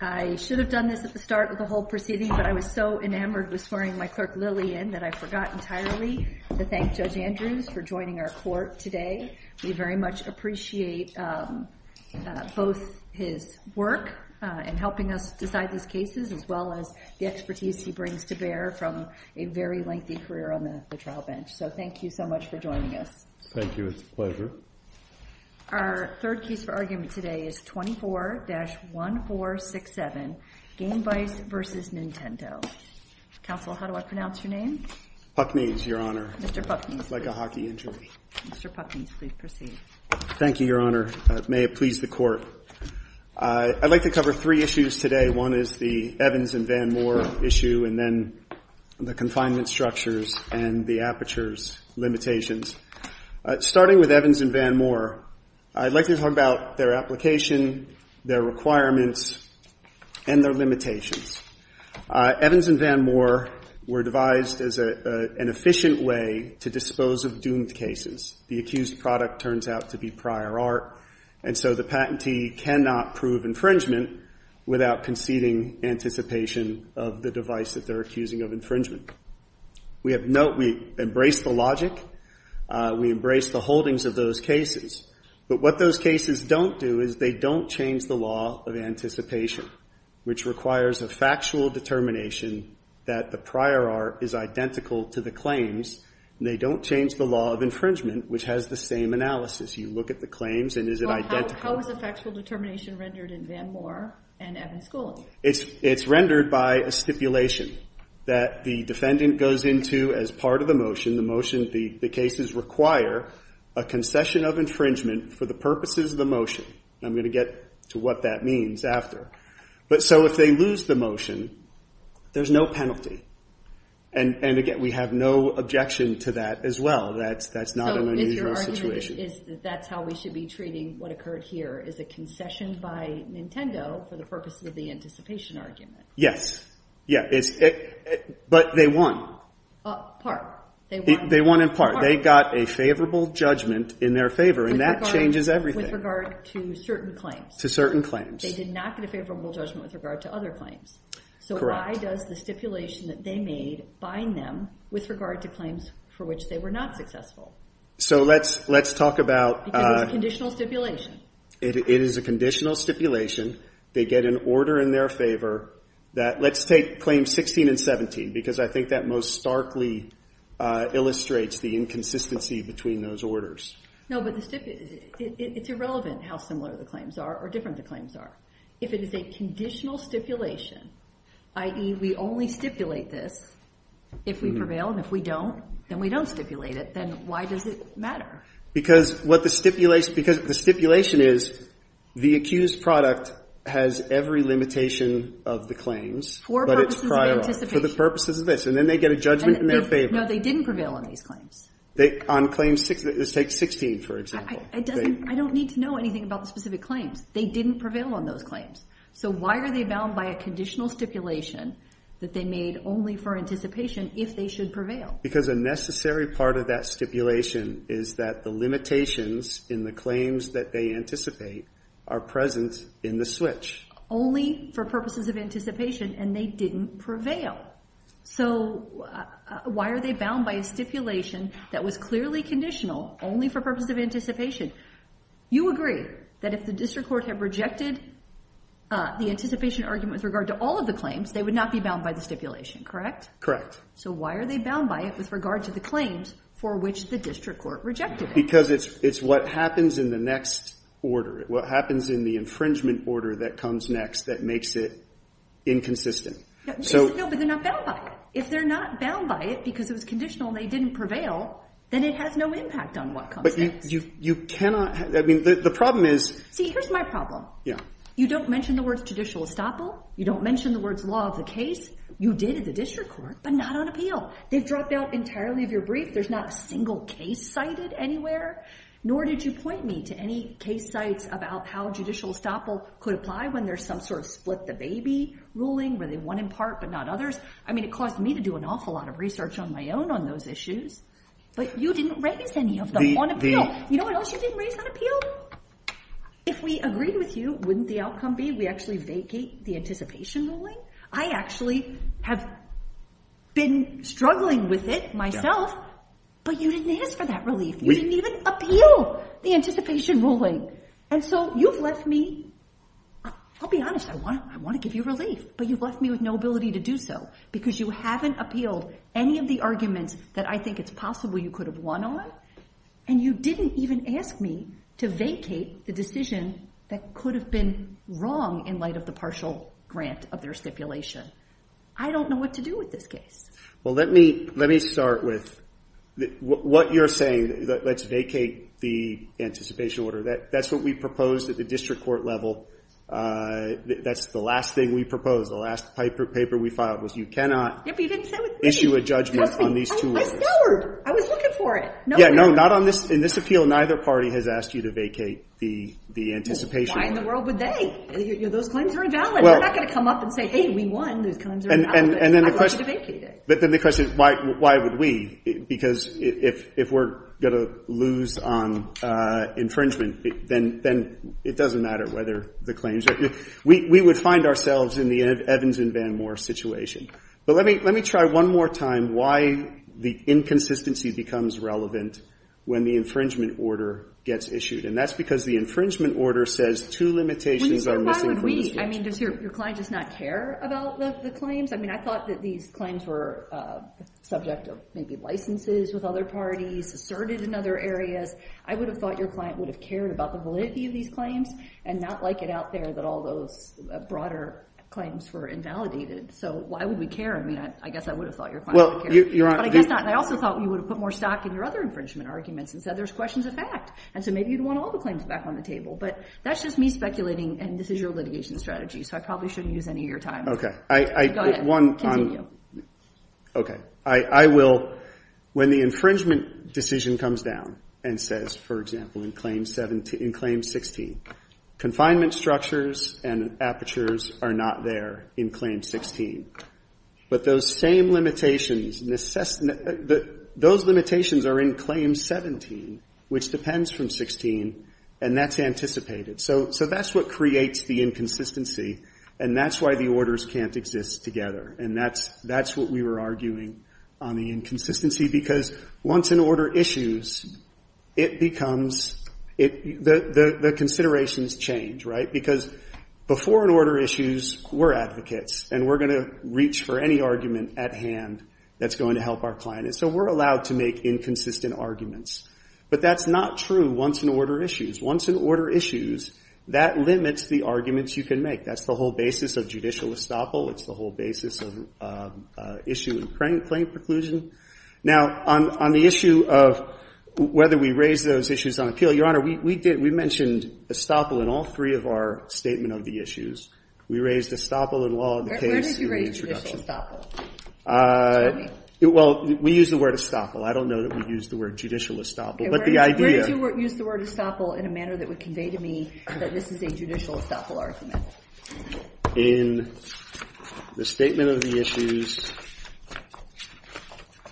I should have done this at the start of the whole proceeding, but I was so enamored with swearing my clerk, Lily, in that I forgot entirely to thank Judge Andrews for joining our court today. We very much appreciate both his work in helping us decide these cases, as well as the expertise he brings to bear from a very lengthy career on the trial bench, so thank you so much for joining us. Thank you. It's a pleasure. Thank you. Our third case for argument today is 24-1467, Gamevice v. Nintendo. Counsel, how do I pronounce your name? Pucknees, Your Honor. Mr. Pucknees, please. Like a hockey injury. Mr. Pucknees, please proceed. Thank you, Your Honor. May it please the Court. I'd like to cover three issues today. One is the Evans and Van Moore issue, and then the confinement structures and the apertures limitations. Starting with Evans and Van Moore, I'd like to talk about their application, their requirements, and their limitations. Evans and Van Moore were devised as an efficient way to dispose of doomed cases. The accused product turns out to be prior art, and so the patentee cannot prove infringement without conceding anticipation of the device that they're accusing of infringement. We embrace the logic. We embrace the holdings of those cases. But what those cases don't do is they don't change the law of anticipation, which requires a factual determination that the prior art is identical to the claims, and they don't change the law of infringement, which has the same analysis. You look at the claims, and is it identical? How is the factual determination rendered in Van Moore and Evans Schooling? It's rendered by a stipulation that the defendant goes into as part of the motion. The cases require a concession of infringement for the purposes of the motion, and I'm going to get to what that means after. But so if they lose the motion, there's no penalty. And again, we have no objection to that as well. That's not an unusual situation. So is your argument that that's how we should be treating what occurred here, is a concession by Nintendo for the purposes of the anticipation argument? Yeah. But they won. Part. They won in part. They got a favorable judgment in their favor, and that changes everything. With regard to certain claims. To certain claims. They did not get a favorable judgment with regard to other claims. So why does the stipulation that they made bind them with regard to claims for which they were not successful? So let's talk about... Because it's conditional stipulation. It is a conditional stipulation. They get an order in their favor that... Let's take claims 16 and 17, because I think that most starkly illustrates the inconsistency between those orders. No, but the stip... It's irrelevant how similar the claims are or different the claims are. If it is a conditional stipulation, i.e. we only stipulate this if we prevail, and if we don't, then we don't stipulate it, then why does it matter? Because what the stipulation... Because the stipulation is, the accused product has every limitation of the claims, but it's For purposes of anticipation. For the purposes of this. And then they get a judgment in their favor. No, they didn't prevail on these claims. They... On claims... Let's take 16, for example. It doesn't... I don't need to know anything about the specific claims. They didn't prevail on those claims. So why are they bound by a conditional stipulation that they made only for anticipation if they should prevail? Because a necessary part of that stipulation is that the limitations in the claims that they anticipate are present in the switch. Only for purposes of anticipation, and they didn't prevail. So why are they bound by a stipulation that was clearly conditional only for purposes of anticipation? You agree that if the district court had rejected the anticipation argument with regard to all of the claims, they would not be bound by the stipulation, correct? Correct. So why are they bound by it with regard to the claims for which the district court rejected it? Because it's what happens in the next order. What happens in the infringement order that comes next that makes it inconsistent. No, but they're not bound by it. If they're not bound by it because it was conditional and they didn't prevail, then it has no impact on what comes next. You cannot... I mean, the problem is... See, here's my problem. You don't mention the words judicial estoppel. You don't mention the words law of the case. You did at the district court, but not on appeal. They've dropped out entirely of your brief. There's not a single case cited anywhere, nor did you point me to any case sites about how judicial estoppel could apply when there's some sort of split the baby ruling where they won in part, but not others. I mean, it caused me to do an awful lot of research on my own on those issues, but you didn't raise any of them on appeal. You know what else you didn't raise on appeal? If we agreed with you, wouldn't the outcome be we actually vacate the anticipation ruling? I actually have been struggling with it myself, but you didn't ask for that relief. You didn't even appeal the anticipation ruling. And so you've left me... I'll be honest. I want to give you relief, but you've left me with no ability to do so because you haven't appealed any of the arguments that I think it's possible you could have won on, and you didn't even ask me to vacate the decision that could have been wrong in light of the judicial grant of their stipulation. I don't know what to do with this case. Well, let me start with what you're saying, that let's vacate the anticipation order. That's what we proposed at the district court level. That's the last thing we proposed. The last paper we filed was you cannot issue a judgment on these two orders. I scoured. I was looking for it. Yeah. No, not on this. In this appeal, neither party has asked you to vacate the anticipation. Why in the world would they? Those claims are invalid. We're not going to come up and say, hey, we won. Those claims are invalid. I want you to vacate it. But then the question is, why would we? Because if we're going to lose on infringement, then it doesn't matter whether the claims are... We would find ourselves in the Evans and Van Moor situation. But let me try one more time why the inconsistency becomes relevant when the infringement order gets issued. And that's because the infringement order says two limitations are missing from the statute. I mean, does your client just not care about the claims? I mean, I thought that these claims were subject of maybe licenses with other parties, asserted in other areas. I would have thought your client would have cared about the validity of these claims and not like it out there that all those broader claims were invalidated. So why would we care? I mean, I guess I would have thought your client would care. But I guess not. And I also thought you would have put more stock in your other infringement arguments and said there's questions of fact. And so maybe you'd want all the claims back on the table. But that's just me speculating and this is your litigation strategy, so I probably shouldn't use any of your time. Go ahead. Continue. Okay. I will... When the infringement decision comes down and says, for example, in Claim 16, confinement structures and apertures are not there in Claim 16. But those same limitations, those limitations are in Claim 17, which depends from 16, and that's anticipated. So that's what creates the inconsistency, and that's why the orders can't exist together. And that's what we were arguing on the inconsistency, because once an order issues, it becomes, the considerations change, right? Because before an order issues, we're advocates, and we're going to reach for any argument at hand that's going to help our client. And so we're allowed to make inconsistent arguments. But that's not true once an order issues. Once an order issues, that limits the arguments you can make. That's the whole basis of judicial estoppel. It's the whole basis of issue and claim preclusion. Now, on the issue of whether we raise those issues on appeal, Your Honor, we mentioned estoppel in all three of our Statement of the Issues. We raised estoppel in Law of the Case in the introduction. Where did you raise judicial estoppel? Tell me. Well, we use the word estoppel. I don't know that we use the word judicial estoppel. Where did you use the word estoppel in a manner that would convey to me that this is a judicial estoppel argument? In the Statement of the Issues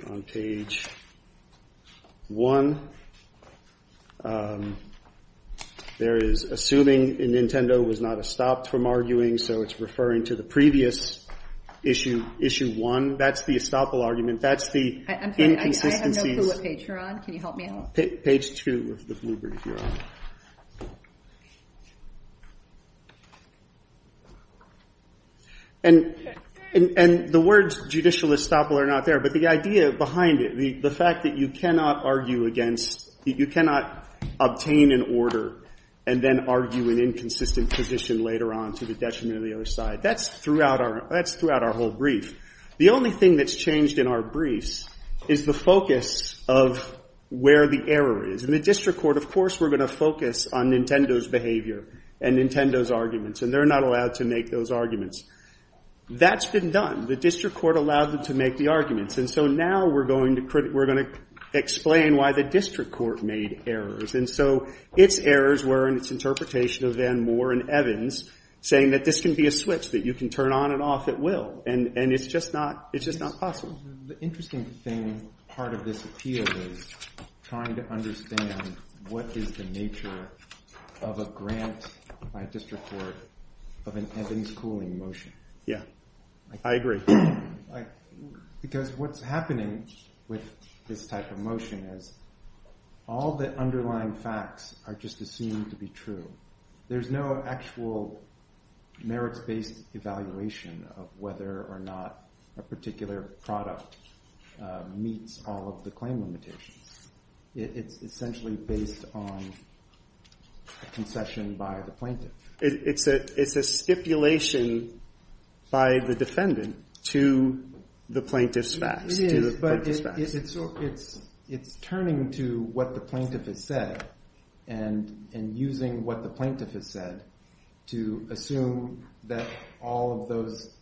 on page 1, there is assuming Nintendo was not estopped from arguing, so it's referring to the previous issue, issue 1. That's the estoppel argument. That's the inconsistencies. I'm sorry. I have no clue what page you're on. Can you help me out? Page 2 of the Bluebird, Your Honor. And the words judicial estoppel are not there, but the idea behind it, the fact that you cannot argue against, you cannot obtain an order and then argue an inconsistent position later on to the detriment of the other side, that's throughout our whole brief. The only thing that's changed in our briefs is the focus of where the error is. In the district court, of course, we're going to focus on Nintendo's behavior and Nintendo's arguments, and they're not allowed to make those arguments. That's been done. The district court allowed them to make the arguments, and so now we're going to explain why the district court made errors. And so its errors were in its interpretation of Van Moore and Evans, saying that this can be a switch, that you can turn on and off at will, and it's just not possible. The interesting thing, part of this appeal is trying to understand what is the nature of a grant by a district court of an Evans cooling motion. Yeah, I agree. Because what's happening with this type of motion is all the underlying facts are just assumed to be true. There's no actual merits-based evaluation of whether or not a particular product meets all of the claim limitations. It's essentially based on a concession by the plaintiff. It's a stipulation by the defendant to the plaintiff's facts. It's turning to what the plaintiff has said and using what the plaintiff has said to assume that all of those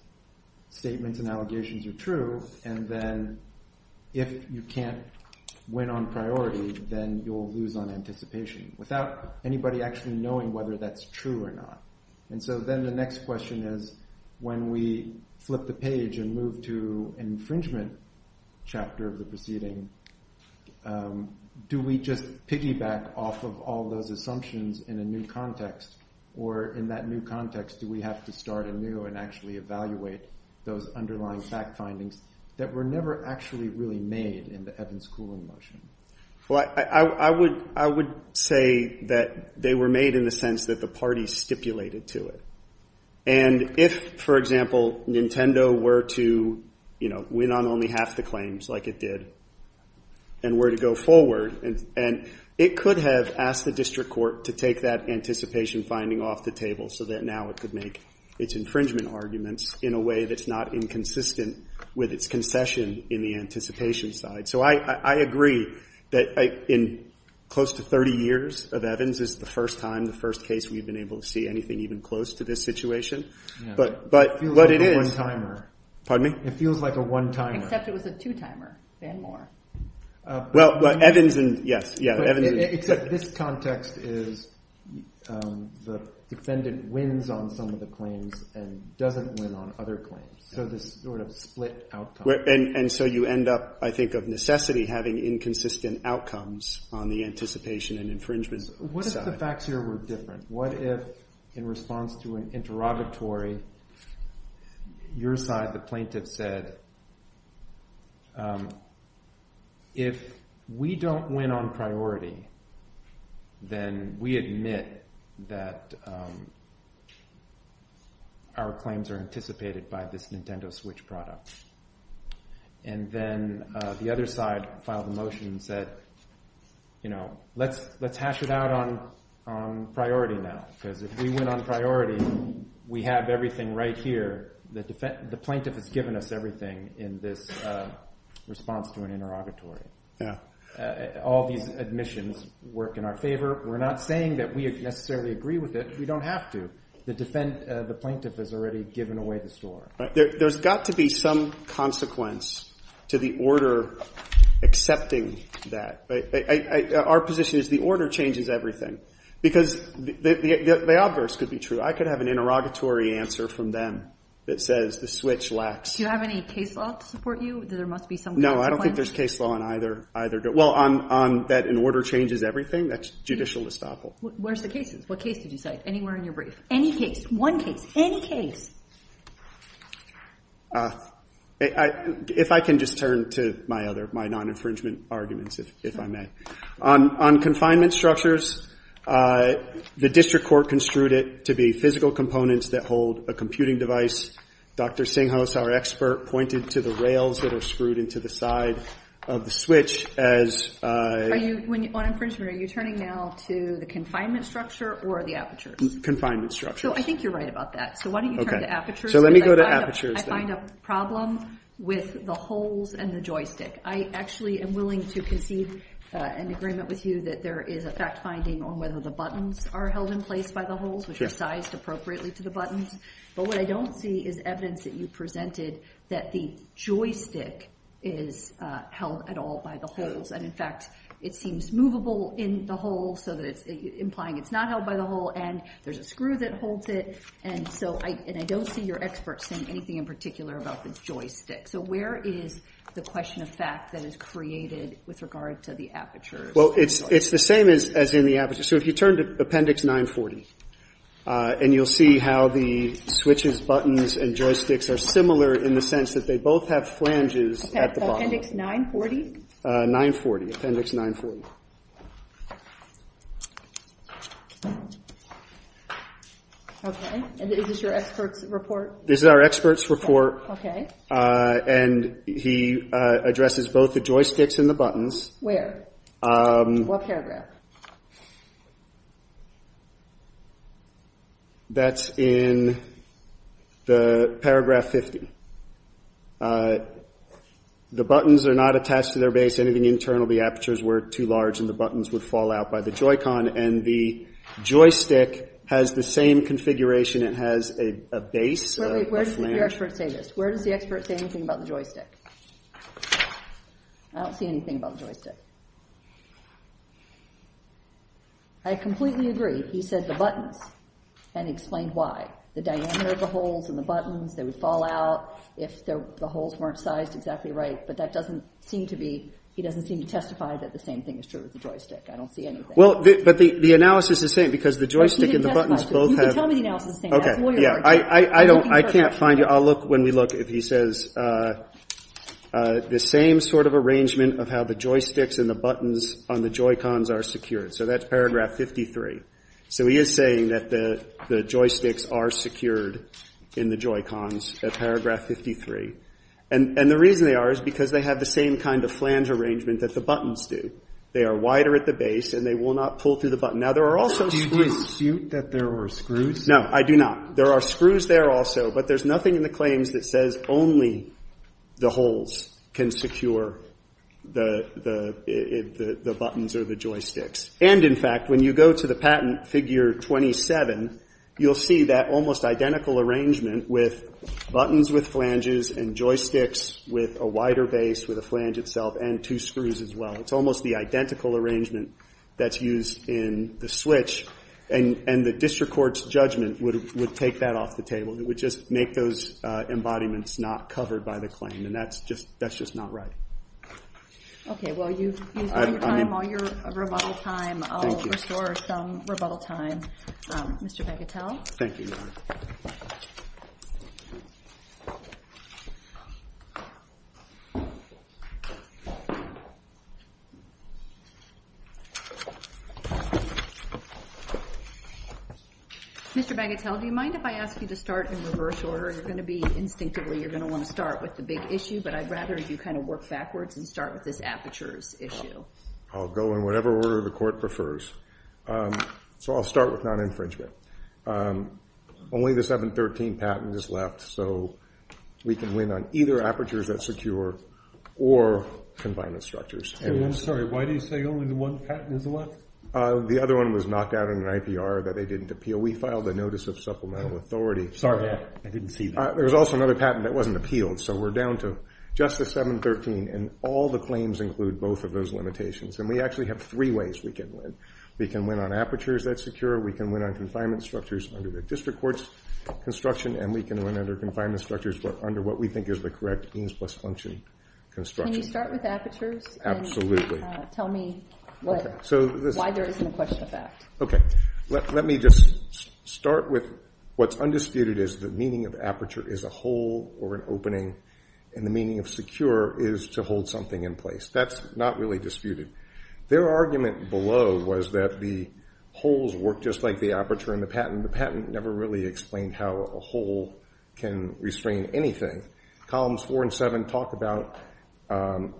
statements and allegations are true, and then if you can't win on priority, then you'll lose on anticipation without anybody actually knowing whether that's true or not. And so then the next question is, when we flip the page and move to an infringement chapter of the proceeding, do we just piggyback off of all those assumptions in a new context, or in that new context, do we have to start anew and actually evaluate those underlying fact findings that were never actually really made in the Evans cooling motion? Well, I would say that they were made in the sense that the parties stipulated to it. And if, for example, Nintendo were to win on only half the claims like it did and were to go forward, it could have asked the district court to take that anticipation finding off the table so that now it could make its infringement arguments in a way that's not inconsistent with its concession in the anticipation side. So I agree that in close to 30 years of Evans, this is the first time, the first case, we've been able to see anything even close to this situation. But it is. Pardon me? It feels like a one-timer. Except it was a two-timer, and more. Well, Evans, yes. Except this context is the defendant wins on some of the claims and doesn't win on other claims. So this sort of split outcome. And so you end up, I think, of necessity having inconsistent outcomes on the anticipation and infringement side. What if the facts here were different? What if, in response to an interrogatory, your side, the plaintiff, said, if we don't win on priority, then we admit that our claims are anticipated by this Nintendo Switch product. And then the other side filed a motion and said, let's hash it out on priority now. Because if we win on priority, we have everything right here. The plaintiff has given us everything in this response to an interrogatory. All these admissions work in our favor. We're not saying that we necessarily agree with it. We don't have to. The plaintiff has already given away the store. There's got to be some consequence to the order accepting that. Our position is the order changes everything. Because the obverse could be true. I could have an interrogatory answer from them that says the Switch lacks. Do you have any case law to support you that there must be some consequence? No, I don't think there's case law on either. Well, on that an order changes everything, that's judicial estoppel. Where's the cases? What case did you say? Anywhere in your brief. Any case. One case. Any case. If I can just turn to my other, my non-infringement arguments, if I may. On confinement structures, the district court construed it to be physical components that hold a computing device. Dr. Singhouse, our expert, pointed to the rails that are screwed into the side of the Switch as... Are you, on infringement, are you turning now to the confinement structure or the apertures? Confinement structure. So I think you're right about that. So why don't you turn to apertures? So let me go to apertures. I find a problem with the holes and the joystick. I actually am willing to concede an agreement with you that there is a fact finding on whether the buttons are held in place by the holes, which are sized appropriately to the buttons. But what I don't see is evidence that you presented that the joystick is held at all by the holes. And, in fact, it seems movable in the hole, implying it's not held by the hole. And there's a screw that holds it. And so I don't see your experts saying anything in particular about the joystick. So where is the question of fact that is created with regard to the apertures? Well, it's the same as in the apertures. So if you turn to Appendix 940, and you'll see how the switches, buttons, and joysticks are similar in the sense that they both have flanges at the bottom. Appendix 940? 940. Appendix 940. Okay. And is this your expert's report? This is our expert's report. Okay. And he addresses both the joysticks and the buttons. Where? What paragraph? That's in the paragraph 50. The buttons are not attached to their base. Anything internal, the apertures were too large, and the buttons would fall out by the Joy-Con. And the joystick has the same configuration. It has a base, a flange. Where does your expert say this? Where does the expert say anything about the joystick? I don't see anything about the joystick. I completely agree. He said the buttons and explained why. The diameter of the holes in the buttons, they would fall out if the holes weren't sized exactly right. But that doesn't seem to be – he doesn't seem to testify that the same thing is true with the joystick. I don't see anything. Well, but the analysis is saying because the joystick and the buttons both have – You can tell me the analysis is saying that. Okay. I can't find it. I'll look when we look if he says the same sort of arrangement of how the joysticks and the buttons on the Joy-Cons are secured. So that's paragraph 53. So he is saying that the joysticks are secured in the Joy-Cons at paragraph 53. And the reason they are is because they have the same kind of flange arrangement that the buttons do. They are wider at the base, and they will not pull through the button. Now, there are also screws. Do you dispute that there are screws? No, I do not. There are screws there also, but there's nothing in the claims that says only the holes can secure the buttons or the joysticks. And, in fact, when you go to the patent figure 27, you'll see that almost identical arrangement with buttons with flanges and joysticks with a wider base with a flange itself and two screws as well. It's almost the identical arrangement that's used in the switch. And the district court's judgment would take that off the table. It would just make those embodiments not covered by the claim. And that's just not right. Okay. Well, you've used all your time, all your rebuttal time. Thank you. I'll restore some rebuttal time. Mr. Begatel? Thank you, Your Honor. Mr. Begatel, do you mind if I ask you to start in reverse order? You're going to be instinctively you're going to want to start with the big issue, but I'd rather you kind of work backwards and start with this apertures issue. I'll go in whatever order the court prefers. So I'll start with non-infringement. Only the 713 patent is left, so we can win on either apertures that secure or confinement structures. I'm sorry. Why do you say only the one patent is left? The other one was knocked out in an IPR that they didn't appeal. We filed a notice of supplemental authority. Sorry. I didn't see that. There was also another patent that wasn't appealed, so we're down to just the 713. And all the claims include both of those limitations. And we actually have three ways we can win. We can win on apertures that secure. We can win on confinement structures under the district court's construction. And we can win under confinement structures under what we think is the correct EANS plus function construction. Can you start with apertures? Absolutely. And tell me what. Why there isn't a question of that. Okay. Let me just start with what's undisputed is the meaning of aperture is a hole or an opening, and the meaning of secure is to hold something in place. That's not really disputed. Their argument below was that the holes work just like the aperture in the patent. The patent never really explained how a hole can restrain anything. Columns four and seven talk about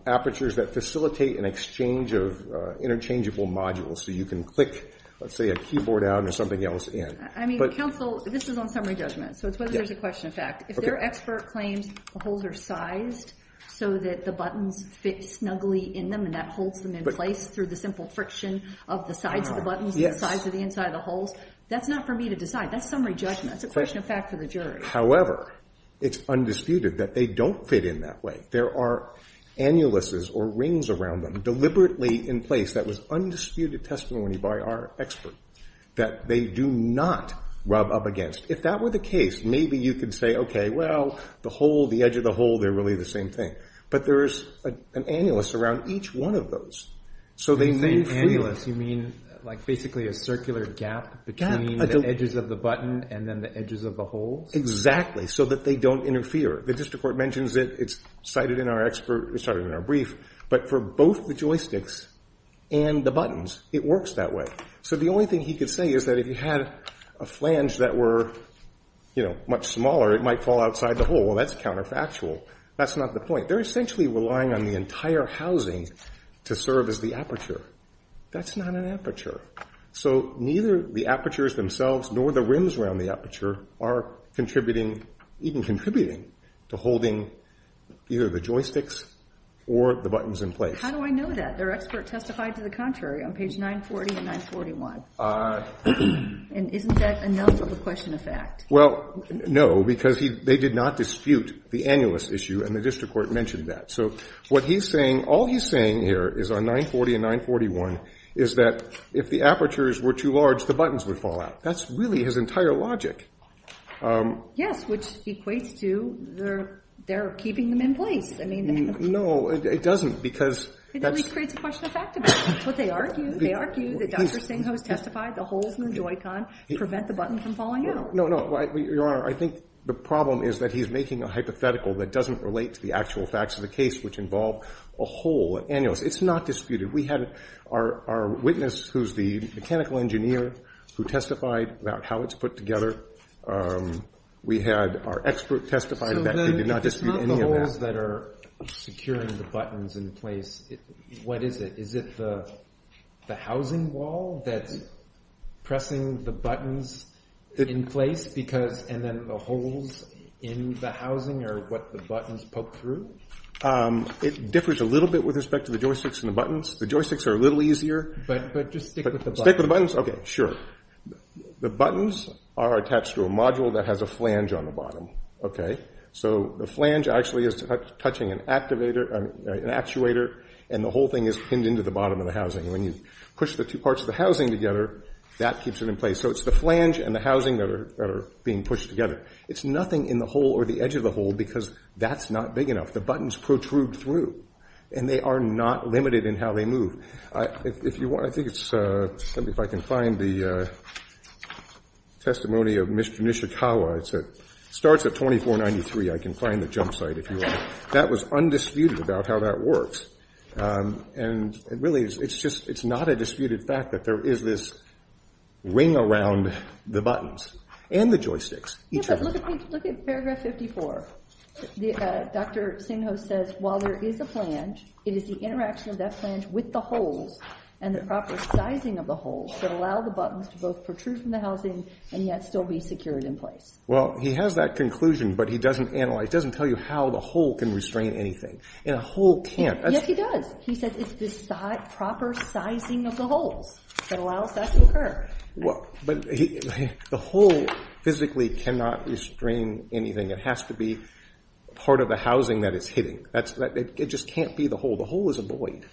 apertures that facilitate an exchange of interchangeable modules. So you can click, let's say, a keyboard out or something else in. I mean, counsel, this is on summary judgment. So it's whether there's a question of fact. If their expert claims the holes are sized so that the buttons fit snugly in them and that holds them in place through the simple friction of the sides of the buttons, the sides of the inside of the holes, that's not for me to decide. That's summary judgment. That's a question of fact for the jury. However, it's undisputed that they don't fit in that way. There are annuluses or rings around them deliberately in place that was undisputed testimony by our expert that they do not rub up against. If that were the case, maybe you could say, okay, well, the hole, the edge of the hole, they're really the same thing. But there is an annulus around each one of those. So they may feel it. You're saying annulus. You mean like basically a circular gap between the edges of the button and then the edges of the holes? Exactly. So that they don't interfere. The district court mentions it. It's cited in our brief. But for both the joysticks and the buttons, it works that way. So the only thing he could say is that if you had a flange that were, you know, much smaller, it might fall outside the hole. Well, that's counterfactual. That's not the point. They're essentially relying on the entire housing to serve as the aperture. That's not an aperture. So neither the apertures themselves nor the rims around the aperture are contributing, even contributing to holding either the joysticks or the buttons in place. How do I know that? Their expert testified to the contrary on page 940 and 941. And isn't that a null of the question of fact? Well, no, because they did not dispute the annulus issue, and the district court mentioned that. So what he's saying, all he's saying here is on 940 and 941, is that if the apertures were too large, the buttons would fall out. That's really his entire logic. Yes, which equates to they're keeping them in place. No, it doesn't because that's. It at least creates a question of fact about it. But they argue, they argue that Dr. Singh has testified the holes in the Joy-Con prevent the button from falling out. No, no, no. Your Honor, I think the problem is that he's making a hypothetical that doesn't relate to the actual facts of the case, which involve a hole, an annulus. It's not disputed. We had our witness who's the mechanical engineer who testified about how it's put together. We had our expert testify that they did not dispute any of that. So then if it's not the holes that are securing the buttons in place, what is it? Is it the housing wall that's pressing the buttons in place? And then the holes in the housing are what the buttons poke through? It differs a little bit with respect to the joysticks and the buttons. The joysticks are a little easier. But just stick with the buttons. Stick with the buttons. Okay, sure. The buttons are attached to a module that has a flange on the bottom. So the flange actually is touching an actuator, and the whole thing is pinned into the bottom of the housing. When you push the two parts of the housing together, that keeps it in place. So it's the flange and the housing that are being pushed together. It's nothing in the hole or the edge of the hole because that's not big enough. The buttons protrude through, and they are not limited in how they move. Let me see if I can find the testimony of Mr. Nishikawa. It starts at 2493. I can find the jump site if you want. That was undisputed about how that works. And really, it's not a disputed fact that there is this ring around the buttons and the joysticks. Look at paragraph 54. Dr. Singho says, while there is a flange, it is the interaction of that flange with the holes and the proper sizing of the holes that allow the buttons to both protrude from the housing and yet still be secured in place. Well, he has that conclusion, but he doesn't analyze, doesn't tell you how the hole can restrain anything. And a hole can't. Yes, he does. He says it's the proper sizing of the holes that allows that to occur. But the hole physically cannot restrain anything. It has to be part of the housing that it's hitting. It just can't be the hole. The hole is a void.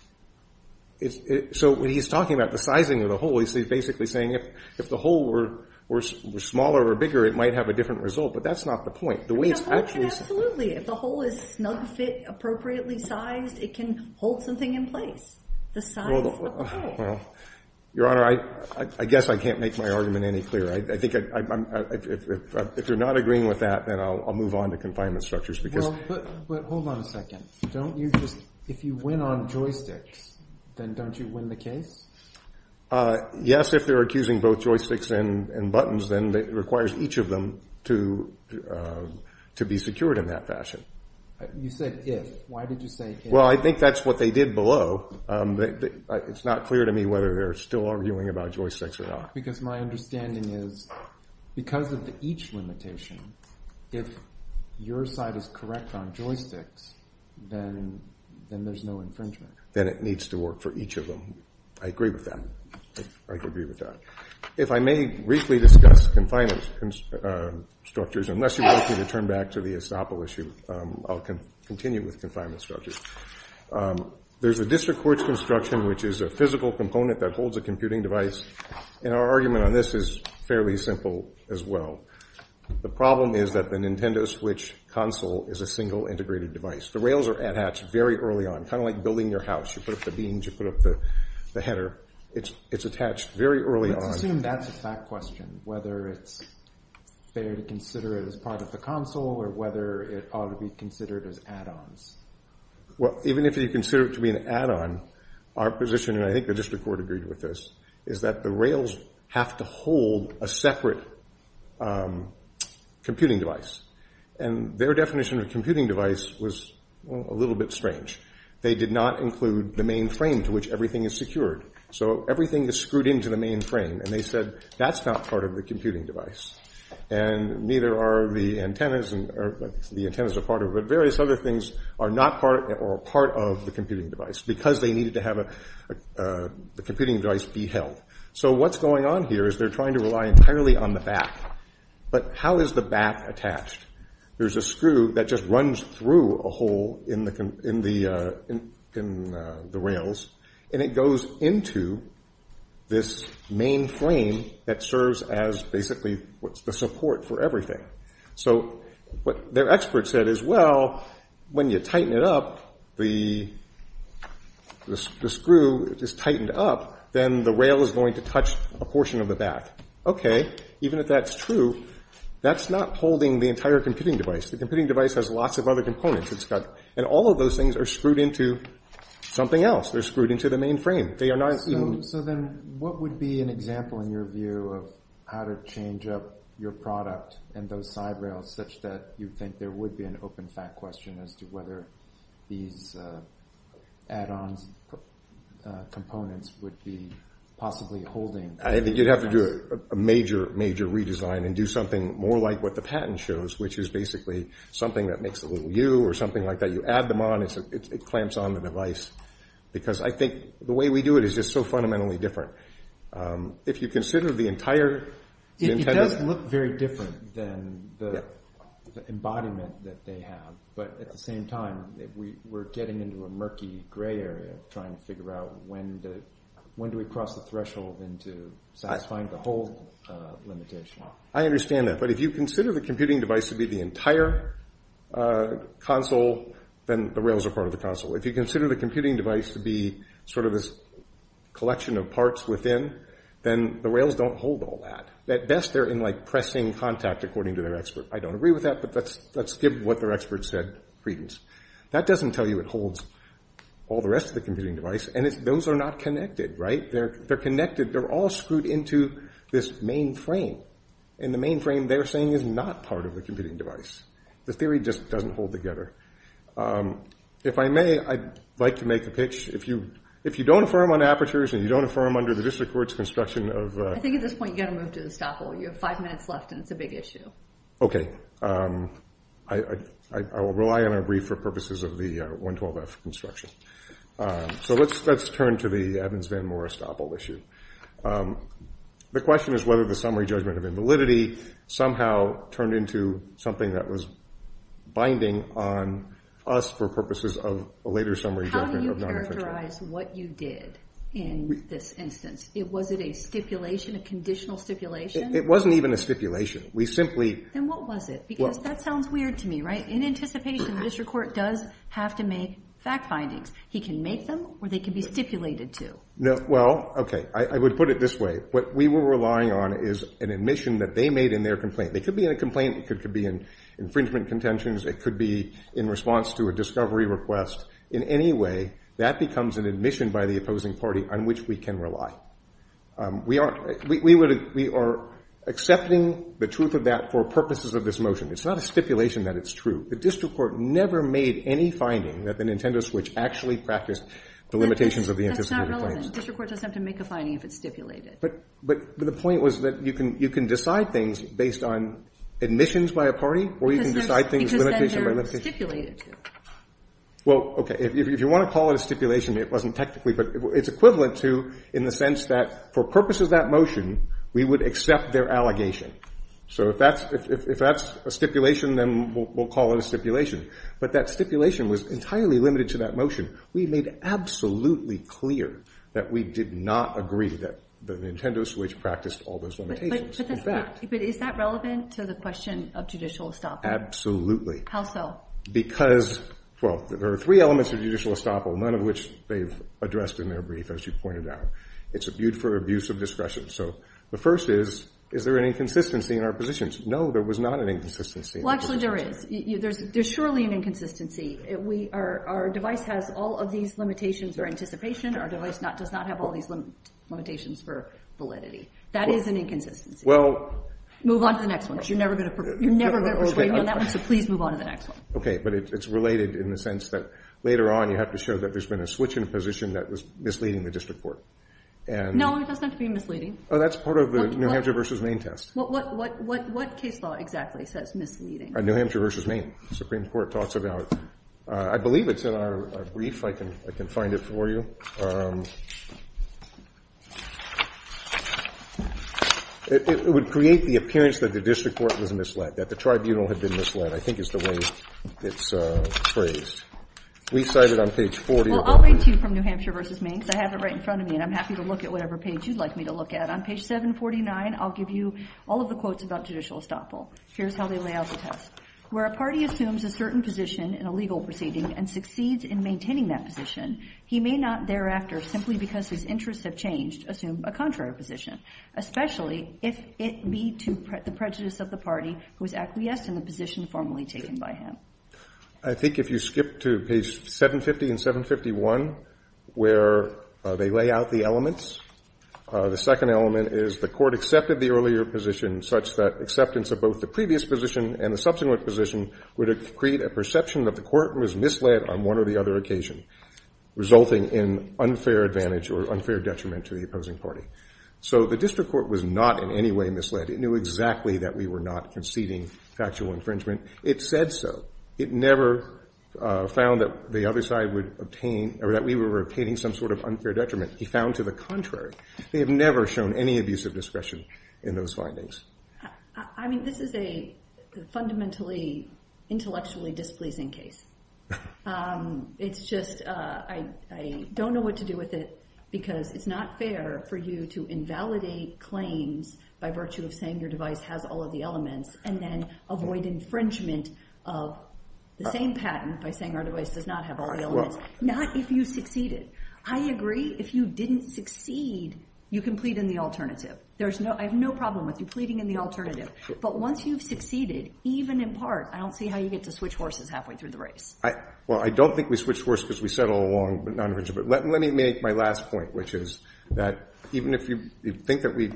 So when he's talking about the sizing of the hole, he's basically saying if the hole were smaller or bigger, it might have a different result. But that's not the point. The way it's actually— Absolutely. If the hole is snug fit, appropriately sized, it can hold something in place, the size of the hole. Well, Your Honor, I guess I can't make my argument any clearer. I think if you're not agreeing with that, then I'll move on to confinement structures because— Well, but hold on a second. Don't you just—if you win on joysticks, then don't you win the case? Yes, if they're accusing both joysticks and buttons, then it requires each of them to be secured in that fashion. You said if. Why did you say if? Well, I think that's what they did below. It's not clear to me whether they're still arguing about joysticks or not. Because my understanding is because of the each limitation, if your side is correct on joysticks, then there's no infringement. Then it needs to work for each of them. I agree with that. I agree with that. If I may briefly discuss confinement structures, unless you want me to turn back to the Estoppel issue, I'll continue with confinement structures. There's a district courts construction, which is a physical component that holds a computing device. Our argument on this is fairly simple as well. The problem is that the Nintendo Switch console is a single integrated device. The rails are attached very early on, kind of like building your house. You put up the beams. You put up the header. It's attached very early on. Let's assume that's a fact question, whether it's fair to consider it as part of the console or whether it ought to be considered as add-ons. Well, even if you consider it to be an add-on, our position, and I think the district court agreed with this, is that the rails have to hold a separate computing device. And their definition of a computing device was a little bit strange. They did not include the main frame to which everything is secured. So everything is screwed into the main frame. And they said that's not part of the computing device. And neither are the antennas. The antennas are part of it. Various other things are not part of the computing device because they needed to have the computing device be held. So what's going on here is they're trying to rely entirely on the back. But how is the back attached? There's a screw that just runs through a hole in the rails. And it goes into this main frame that serves as basically the support for everything. So what their expert said is, well, when you tighten it up, the screw is tightened up, then the rail is going to touch a portion of the back. Okay. Even if that's true, that's not holding the entire computing device. The computing device has lots of other components. And all of those things are screwed into something else. They're screwed into the main frame. So then what would be an example in your view of how to change up your product and those side rails, such that you think there would be an open fact question as to whether these add-on components would be possibly holding? I think you'd have to do a major, major redesign and do something more like what the patent shows, which is basically something that makes a little U or something like that. It clamps on the device. Because I think the way we do it is just so fundamentally different. If you consider the entire intended… It does look very different than the embodiment that they have. But at the same time, we're getting into a murky gray area trying to figure out when do we cross the threshold into satisfying the whole limitation. I understand that. But if you consider the computing device to be the entire console, then the rails are part of the console. If you consider the computing device to be sort of this collection of parts within, then the rails don't hold all that. At best, they're in pressing contact according to their expert. I don't agree with that, but let's give what their expert said credence. That doesn't tell you it holds all the rest of the computing device. And those are not connected, right? They're connected. They're all screwed into this main frame. And the main frame they're saying is not part of the computing device. The theory just doesn't hold together. If I may, I'd like to make a pitch. If you don't affirm on apertures and you don't affirm under the district court's construction of… I think at this point you've got to move to the estoppel. You have five minutes left, and it's a big issue. Okay. I will rely on our brief for purposes of the 112F construction. So let's turn to the Evans-VanMoore estoppel issue. The question is whether the summary judgment of invalidity somehow turned into something that was binding on us for purposes of a later summary judgment of non-effective. How do you characterize what you did in this instance? Was it a stipulation, a conditional stipulation? It wasn't even a stipulation. We simply… Then what was it? Because that sounds weird to me, right? In anticipation, the district court does have to make fact findings. He can make them or they can be stipulated to. No. Well, okay. I would put it this way. What we were relying on is an admission that they made in their complaint. It could be in a complaint. It could be in infringement contentions. It could be in response to a discovery request. In any way, that becomes an admission by the opposing party on which we can rely. We are accepting the truth of that for purposes of this motion. It's not a stipulation that it's true. The district court never made any finding that the Nintendo Switch actually practiced the limitations of the anticipated claims. The district court doesn't have to make a finding if it's stipulated. But the point was that you can decide things based on admissions by a party or you can decide things… Because then they're stipulated to. Well, okay. If you want to call it a stipulation, it wasn't technically, but it's equivalent to in the sense that for purposes of that motion, we would accept their allegation. So if that's a stipulation, then we'll call it a stipulation. But that stipulation was entirely limited to that motion. We made absolutely clear that we did not agree that the Nintendo Switch practiced all those limitations. But is that relevant to the question of judicial estoppel? Absolutely. How so? Because, well, there are three elements of judicial estoppel, none of which they've addressed in their brief, as you pointed out. It's for abuse of discretion. So the first is, is there an inconsistency in our positions? No, there was not an inconsistency. Well, actually, there is. There's surely an inconsistency. Our device has all of these limitations for anticipation. Our device does not have all these limitations for validity. That is an inconsistency. Well… Move on to the next one because you're never going to agree on that one, so please move on to the next one. Okay. But it's related in the sense that later on you have to show that there's been a switch in a position that was misleading the district court. No, it doesn't have to be misleading. Oh, that's part of the New Hampshire v. Maine test. What case law exactly says misleading? New Hampshire v. Maine. The Supreme Court talks about it. I believe it's in our brief. I can find it for you. It would create the appearance that the district court was misled, that the tribunal had been misled, I think is the way it's phrased. We cite it on page 40 of our brief. Well, I'll read to you from New Hampshire v. Maine because I have it right in front of me, and I'm happy to look at whatever page you'd like me to look at. On page 749, I'll give you all of the quotes about judicial estoppel. Here's how they lay out the test. Where a party assumes a certain position in a legal proceeding and succeeds in maintaining that position, he may not thereafter, simply because his interests have changed, assume a contrary position, especially if it be to the prejudice of the party who is acquiesced in the position formally taken by him. I think if you skip to page 750 and 751, where they lay out the elements, the second element is the court accepted the earlier position such that acceptance of both the previous position and the subsequent position would create a perception that the court was misled on one or the other occasion, resulting in unfair advantage or unfair detriment to the opposing party. So the district court was not in any way misled. It knew exactly that we were not conceding factual infringement. It said so. It never found that the other side would obtain or that we were obtaining some sort of unfair detriment. He found to the contrary. They have never shown any abuse of discretion in those findings. I mean, this is a fundamentally intellectually displeasing case. It's just I don't know what to do with it because it's not fair for you to invalidate claims by virtue of saying your device has all of the elements and then avoid infringement of the same patent by saying our device does not have all the elements. Not if you succeeded. I agree. If you didn't succeed, you can plead in the alternative. I have no problem with you pleading in the alternative. But once you've succeeded, even in part, I don't see how you get to switch horses halfway through the race. Well, I don't think we switched horses because we settled on non-infringement. Let me make my last point, which is that even if you think that we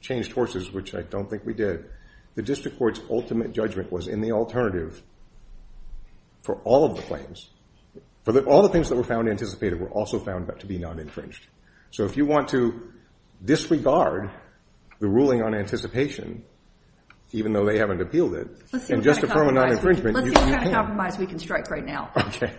changed horses, which I don't think we did, the district court's ultimate judgment was in the alternative for all of the claims. All the things that were found anticipated were also found to be non-infringed. So if you want to disregard the ruling on anticipation, even though they haven't appealed it, and just affirm a non-infringement, you can. Let's see what kind of compromise we can strike right now. Okay.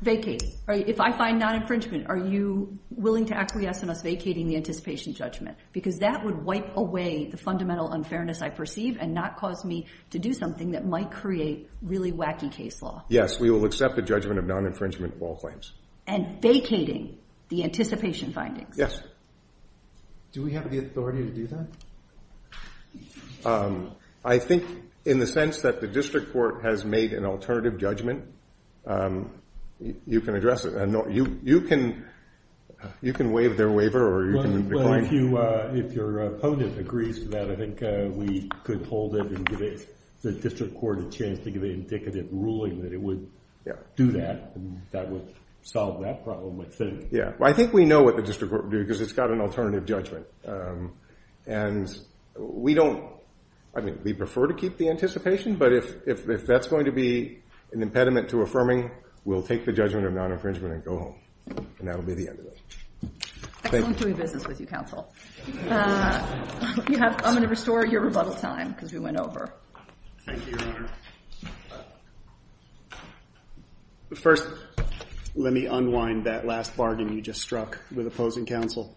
Vacate. If I find non-infringement, are you willing to acquiesce in us vacating the anticipation judgment? Because that would wipe away the fundamental unfairness I perceive and not cause me to do something that might create really wacky case law. Yes, we will accept a judgment of non-infringement of all claims. And vacating the anticipation findings. Yes. Do we have the authority to do that? I think in the sense that the district court has made an alternative judgment, you can address it. You can waive their waiver or you can decline it. Well, if your opponent agrees to that, I think we could hold it and give the district court a chance to give an indicative ruling that it would do that. That would solve that problem. I think we know what the district court would do because it's got an alternative judgment. And we prefer to keep the anticipation, but if that's going to be an impediment to affirming, we'll take the judgment of non-infringement and go home. And that will be the end of it. Excellent doing business with you, counsel. I'm going to restore your rebuttal time because we went over. Thank you, Your Honor. First, let me unwind that last bargain you just struck with opposing counsel.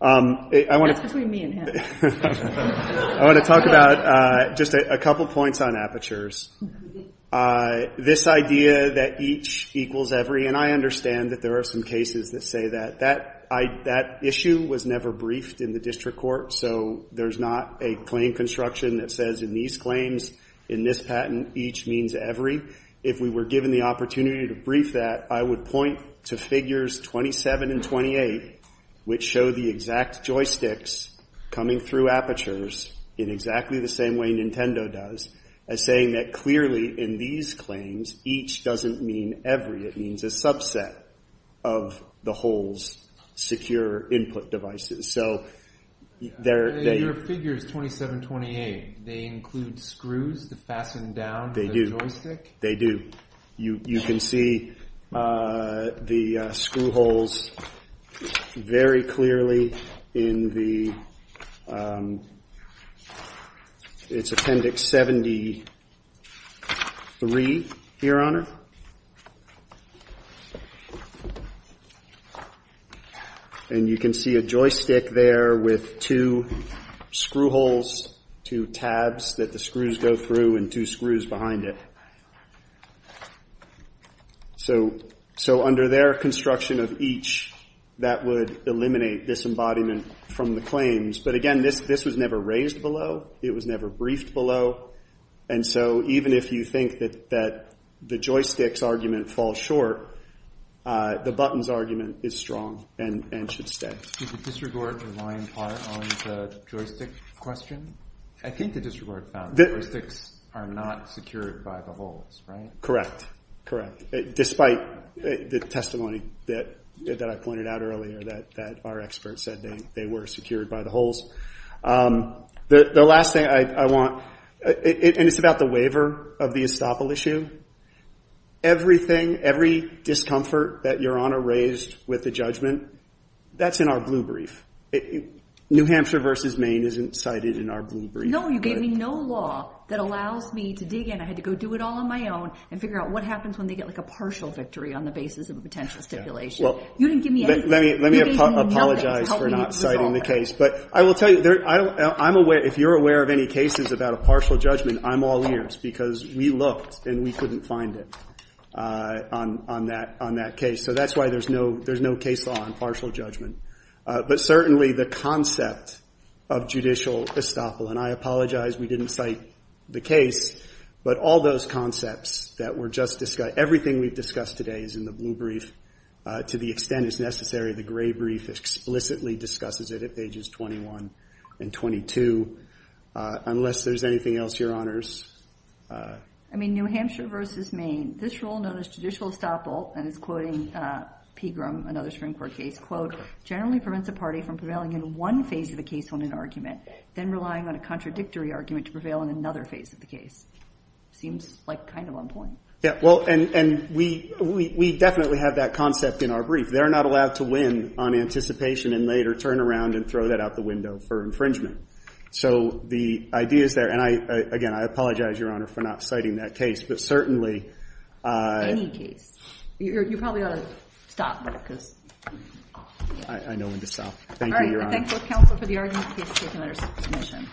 That's between me and him. I want to talk about just a couple points on apertures. This idea that each equals every, and I understand that there are some cases that say that. That issue was never briefed in the district court, so there's not a claim construction that says in these claims, in this patent, each means every. If we were given the opportunity to brief that, I would point to figures 27 and 28, which show the exact joysticks coming through apertures in exactly the same way Nintendo does. As saying that clearly in these claims, each doesn't mean every. It means a subset of the whole secure input devices. Your figure is 27-28. They include screws to fasten down the joystick? They do. You can see the screw holes very clearly in the – it's Appendix 73 here, Your Honor. And you can see a joystick there with two screw holes, two tabs that the screws go through, and two screws behind it. So under their construction of each, that would eliminate this embodiment from the claims. But again, this was never raised below. It was never briefed below. And so even if you think that the joysticks argument falls short, the buttons argument is strong and should stay. Did the district court rely in part on the joystick question? I think the district court found the joysticks are not secured by the holes, right? Correct. Despite the testimony that I pointed out earlier that our experts said they were secured by the holes. The last thing I want – and it's about the waiver of the estoppel issue. Everything, every discomfort that Your Honor raised with the judgment, that's in our blue brief. New Hampshire v. Maine isn't cited in our blue brief. No, you gave me no law that allows me to dig in. I had to go do it all on my own and figure out what happens when they get like a partial victory on the basis of a potential stipulation. You didn't give me anything. Let me apologize for not citing the case. But I will tell you, I'm aware – if you're aware of any cases about a partial judgment, I'm all ears because we looked and we couldn't find it on that case. So that's why there's no case law on partial judgment. But certainly the concept of judicial estoppel, and I apologize we didn't cite the case, but all those concepts that were just – everything we've discussed today is in the blue brief. To the extent it's necessary, the gray brief explicitly discusses it at pages 21 and 22. Unless there's anything else, Your Honors. I mean, New Hampshire v. Maine, this rule known as judicial estoppel, and it's quoting Pegram, another Supreme Court case, quote, generally prevents a party from prevailing in one phase of the case on an argument, then relying on a contradictory argument to prevail in another phase of the case. Seems like kind of on point. Yeah, well, and we definitely have that concept in our brief. They're not allowed to win on anticipation and later turn around and throw that out the window for infringement. So the idea is there. And again, I apologize, Your Honor, for not citing that case. But certainly – Any case. You probably ought to stop there because – I know when to stop. Thank you, Your Honor. All right, I thank both counsel for the argument. Case is taken under submission.